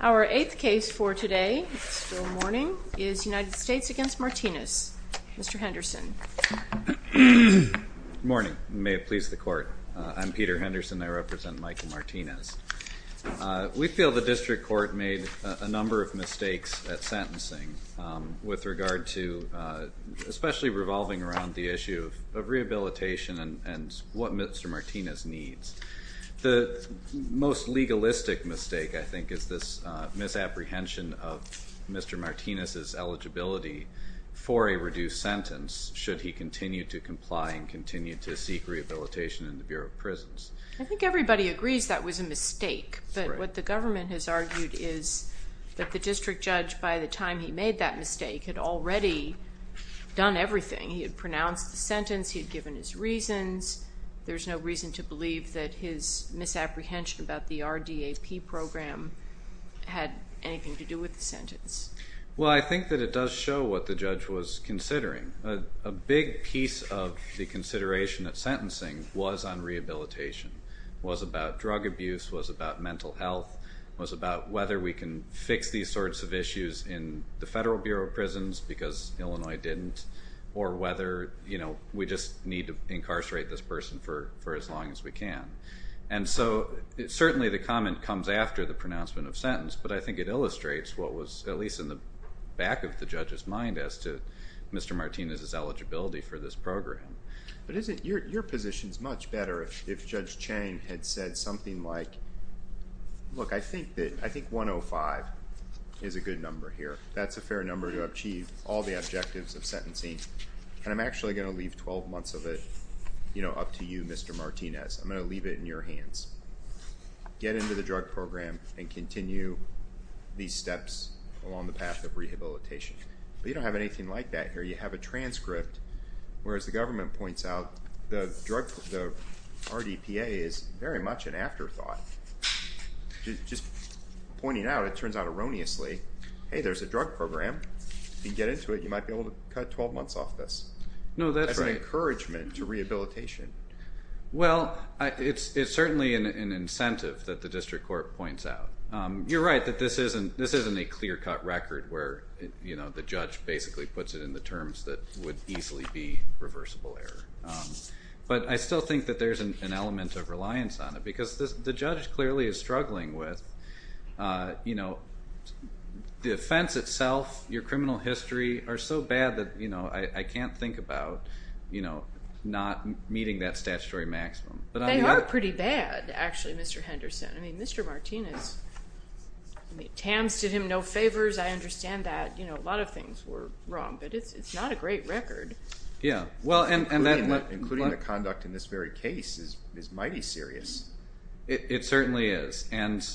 Our 8th case for today, it's still morning, is United States v. Martinez. Mr. Henderson. Good morning. May it please the Court. I'm Peter Henderson. I represent Michael Martinez. We feel the District Court made a number of mistakes at sentencing with regard to, especially revolving around the issue of rehabilitation and what Mr. Martinez needs. The most legalistic mistake, I think, is this misapprehension of Mr. Martinez's eligibility for a reduced sentence should he continue to comply and continue to seek rehabilitation in the Bureau of Prisons. I think everybody agrees that was a mistake, but what the government has argued is that the district judge, by the time he made that mistake, had already done everything. He had pronounced the sentence. He had given his reasons. There's no reason to believe that his misapprehension about the RDAP program had anything to do with the sentence. Well, I think that it does show what the judge was considering. A big piece of the consideration at sentencing was on rehabilitation, was about drug abuse, was about mental health, was about whether we can fix these sorts of issues in the Federal Bureau of Prisons, because Illinois didn't, or whether we just need to incarcerate this person for as long as we can. And so certainly the comment comes after the pronouncement of sentence, but I think it illustrates what was at least in the back of the judge's mind as to Mr. Martinez's eligibility for this program. But isn't your position much better if Judge Chang had said something like, look, I think 105 is a good number here. That's a fair number to achieve all the objectives of sentencing, and I'm actually going to leave 12 months of it up to you, Mr. Martinez. I'm going to leave it in your hands. Get into the drug program and continue these steps along the path of rehabilitation. But you don't have anything like that here. You have a transcript, whereas the government points out the RDPA is very much an afterthought. Just pointing out, it turns out erroneously, hey, there's a drug program. If you can get into it, you might be able to cut 12 months off this. No, that's right. As an encouragement to rehabilitation. Well, it's certainly an incentive that the District Court points out. You're right that this isn't a clear-cut record where the judge basically puts it in the terms that would easily be reversible error. But I still think that there's an element of reliance on it. Because the judge clearly is struggling with the offense itself, your criminal history are so bad that I can't think about not meeting that statutory maximum. They are pretty bad, actually, Mr. Henderson. I mean, Mr. Martinez, I mean, TAMS did him no favors, I understand that. A lot of things were wrong. But it's not a great record. Yeah. Including the conduct in this very case is mighty serious. It certainly is. And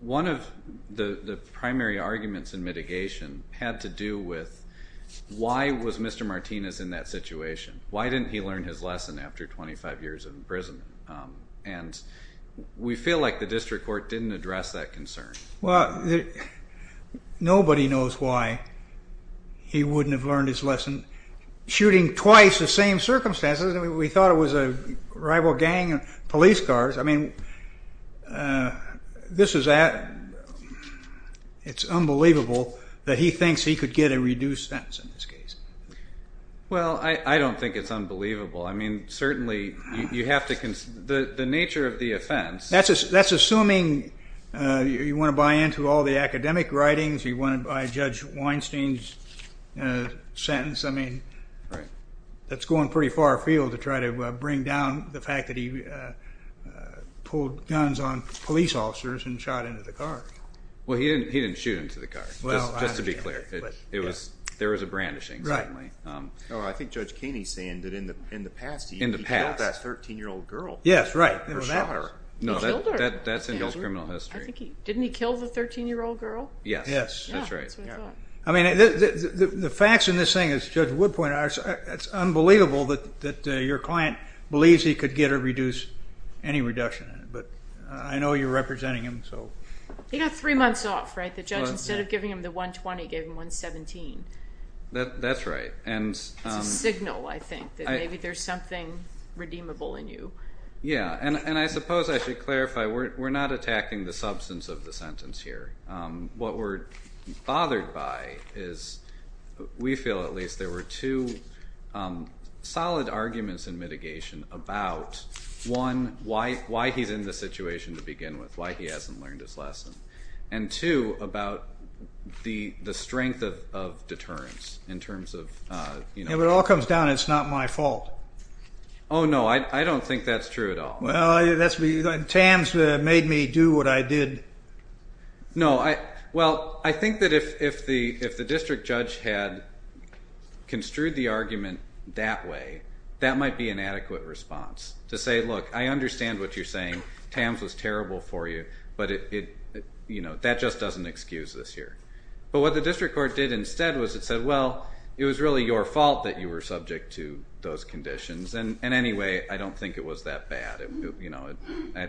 one of the primary arguments in mitigation had to do with why was Mr. Martinez in that situation? Why didn't he learn his lesson after 25 years in prison? And we feel like the District Court didn't address that concern. Well, nobody knows why he wouldn't have learned his lesson shooting twice the same circumstances. We thought it was a rival gang, police cars. I mean, this is, it's unbelievable that he Well, I don't think it's unbelievable. I mean, certainly you have to, the nature of the offense That's assuming you want to buy into all the academic writings, you want to buy Judge Weinstein's sentence. I mean, that's going pretty far afield to try to bring down the fact that he pulled guns on police officers and shot into the car. Well, he didn't shoot into the car, just to be clear. There was a brandishing, certainly. Oh, I think Judge Kaney's saying that in the past he killed that 13-year-old girl. Yes, right. That's in Bill's criminal history. Didn't he kill the 13-year-old girl? Yes, that's right. I mean, the facts in this thing, as Judge Wood pointed out, it's unbelievable that your client believes he could get or reduce any reduction. But I know you're representing him, so. He got three months off, right? The judge, instead of giving him the 120, gave him 117. That's right. It's a signal, I think, that maybe there's something redeemable in you. Yeah, and I suppose I should clarify, we're not attacking the substance of the sentence here. What we're bothered by is, we feel at least, there were two solid arguments in mitigation about, one, why he's in this situation to begin with, why he hasn't learned his lesson. And, two, about the strength of deterrence in terms of, you know. If it all comes down, it's not my fault. Oh, no, I don't think that's true at all. Well, Tams made me do what I did. No, well, I think that if the district judge had construed the argument that way, that might be an adequate response to say, look, I understand what you're saying. Tams was terrible for you, but that just doesn't excuse this here. But what the district court did instead was it said, well, it was really your fault that you were subject to those conditions. And anyway, I don't think it was that bad.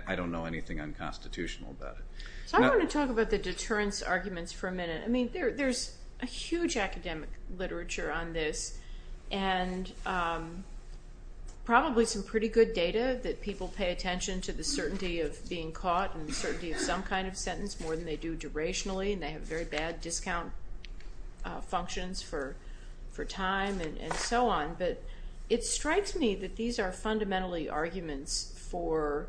I don't know anything unconstitutional about it. So I want to talk about the deterrence arguments for a minute. I mean, there's a huge academic literature on this, and probably some pretty good data that people pay attention to the certainty of being caught and the certainty of some kind of sentence more than they do durationally, and they have very bad discount functions for time and so on. But it strikes me that these are fundamentally arguments for,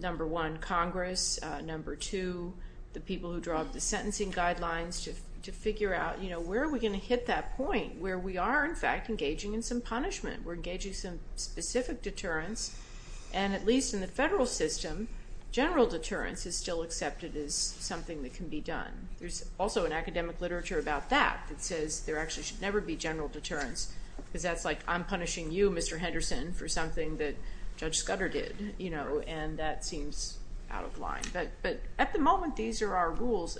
number one, Congress, number two, the people who draw up the sentencing guidelines to figure out, you know, where are we going to hit that point where we are, in fact, engaging in some punishment, we're engaging some specific deterrence, and at least in the federal system, general deterrence is still accepted as something that can be done. There's also an academic literature about that that says there actually should never be general deterrence because that's like I'm punishing you, Mr. Henderson, for something that Judge Scudder did, you know, and that seems out of line. But at the moment, these are our rules.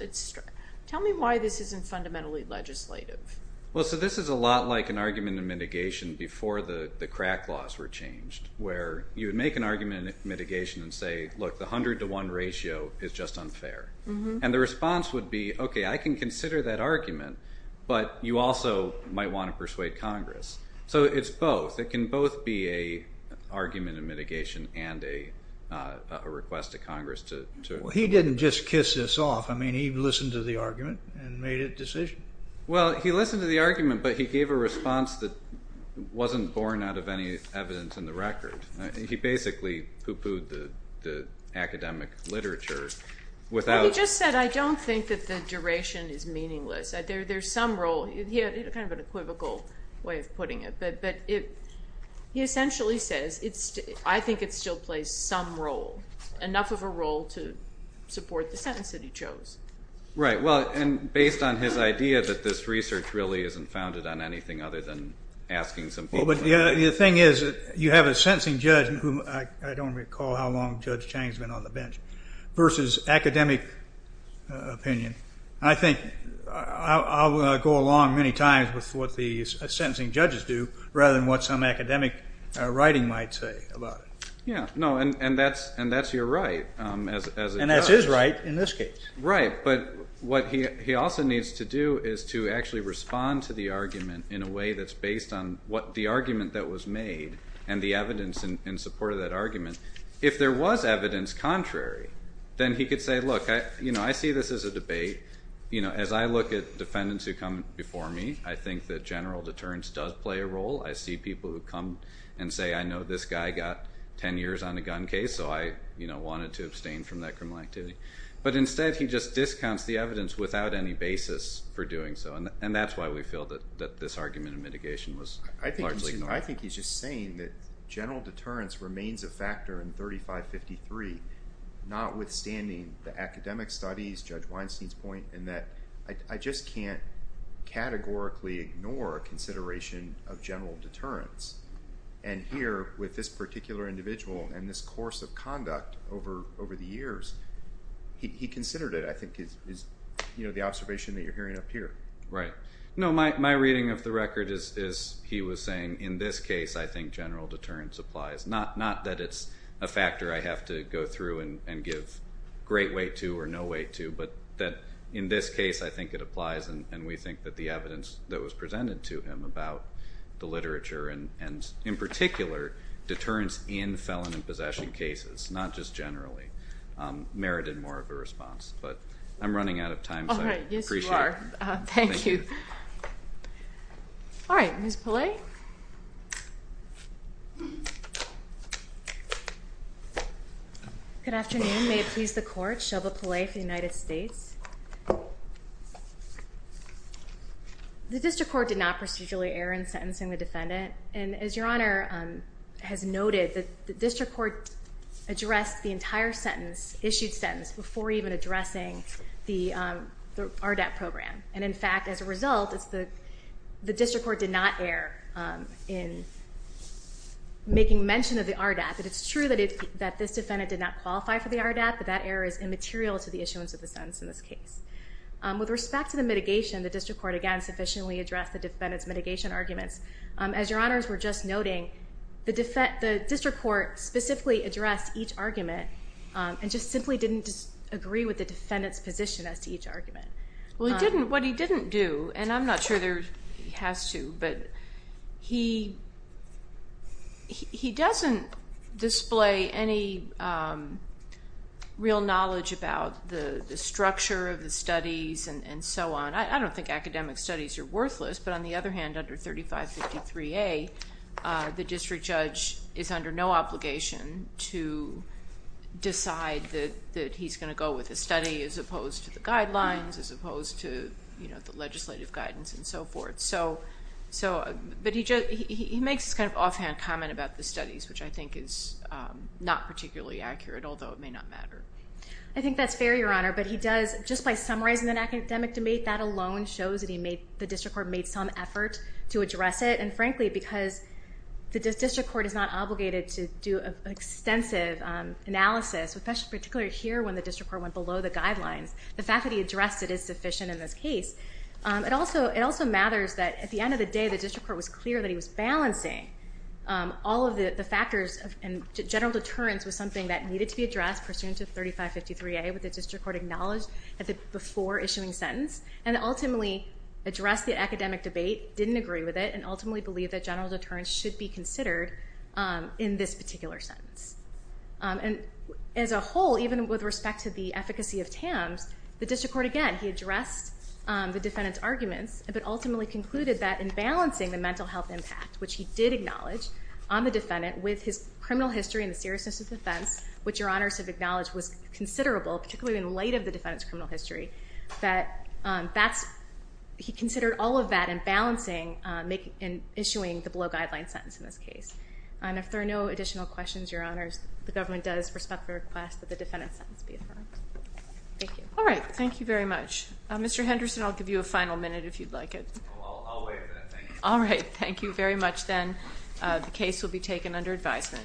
Tell me why this isn't fundamentally legislative. Well, so this is a lot like an argument in mitigation before the crack laws were changed where you would make an argument in mitigation and say, look, the 100 to 1 ratio is just unfair. And the response would be, okay, I can consider that argument, but you also might want to persuade Congress. So it's both. It can both be an argument in mitigation and a request to Congress. Well, he didn't just kiss this off. I mean, he listened to the argument and made a decision. Well, he listened to the argument, but he gave a response that wasn't born out of any evidence in the record. He basically pooh-poohed the academic literature. He just said, I don't think that the duration is meaningless. There's some role. He had kind of an equivocal way of putting it. But he essentially says, I think it still plays some role, enough of a role to support the sentence that he chose. Right. Well, and based on his idea that this research really isn't founded on anything other than asking some people. Well, but the thing is, you have a sentencing judge, whom I don't recall how long Judge Chang has been on the bench, versus academic opinion. I think I'll go along many times with what the sentencing judges do, rather than what some academic writing might say about it. Yeah. No, and that's your right as a judge. And that's his right in this case. Right. But what he also needs to do is to actually respond to the argument in a way that's based on the argument that was made and the evidence in support of that argument. If there was evidence contrary, then he could say, look, I see this as a debate. As I look at defendants who come before me, I think that general deterrence does play a role. I see people who come and say, I know this guy got 10 years on a gun case, so I wanted to abstain from that criminal activity. But instead, he just discounts the evidence without any basis for doing so. And that's why we feel that this argument of mitigation was largely ignored. I think he's just saying that general deterrence remains a factor in 3553, notwithstanding the academic studies, Judge Weinstein's point, and that I just can't categorically ignore a consideration of general deterrence. And here, with this particular individual and this course of conduct over the years, he considered it, I think, is the observation that you're hearing up here. Right. No, my reading of the record is he was saying, in this case I think general deterrence applies. Not that it's a factor I have to go through and give great weight to or no weight to, but that in this case I think it applies and we think that the evidence that was presented to him about the literature and in particular deterrence in felon and possession cases, not just generally, merited more of a response. But I'm running out of time, so I appreciate it. Sure. Thank you. All right. Ms. Pillay? Good afternoon. May it please the Court, Shelva Pillay for the United States. The district court did not procedurally err in sentencing the defendant, and as Your Honor has noted, the district court addressed the entire sentence, issued sentence, before even addressing the RDAP program. And in fact, as a result, the district court did not err in making mention of the RDAP. It's true that this defendant did not qualify for the RDAP, but that error is immaterial to the issuance of the sentence in this case. With respect to the mitigation, the district court, again, sufficiently addressed the defendant's mitigation arguments. As Your Honors were just noting, the district court specifically addressed each argument and just simply didn't agree with the defendant's position as to each argument. Well, what he didn't do, and I'm not sure he has to, but he doesn't display any real knowledge about the structure of the studies and so on. I don't think academic studies are worthless, but on the other hand, under 3553A, the district judge is under no obligation to decide that he's going to go with a study as opposed to the guidelines, as opposed to the legislative guidance and so forth. But he makes this kind of offhand comment about the studies, which I think is not particularly accurate, although it may not matter. I think that's fair, Your Honor, but he does, just by summarizing an academic debate, that alone shows that the district court made some effort to address it. And frankly, because the district court is not obligated to do an extensive analysis, particularly here when the district court went below the guidelines, the fact that he addressed it is sufficient in this case. It also matters that at the end of the day, the district court was clear that he was balancing all of the factors, and general deterrence was something that needed to be addressed, pursuant to 3553A, which the district court acknowledged before issuing the sentence, and ultimately addressed the academic debate, didn't agree with it, and ultimately believed that general deterrence should be considered in this particular sentence. And as a whole, even with respect to the efficacy of TAMS, the district court, again, he addressed the defendant's arguments, but ultimately concluded that in balancing the mental health impact, which he did acknowledge on the defendant, with his criminal history and the seriousness of the offense, which Your Honors have acknowledged was considerable, particularly in light of the defendant's criminal history, that he considered all of that in balancing, in issuing the below-guideline sentence in this case. And if there are no additional questions, Your Honors, the government does respectfully request that the defendant's sentence be affirmed. Thank you. All right. Thank you very much. Mr. Henderson, I'll give you a final minute if you'd like it. I'll wait for that. Thank you. All right. Thank you very much, then. The case will be taken under advisement.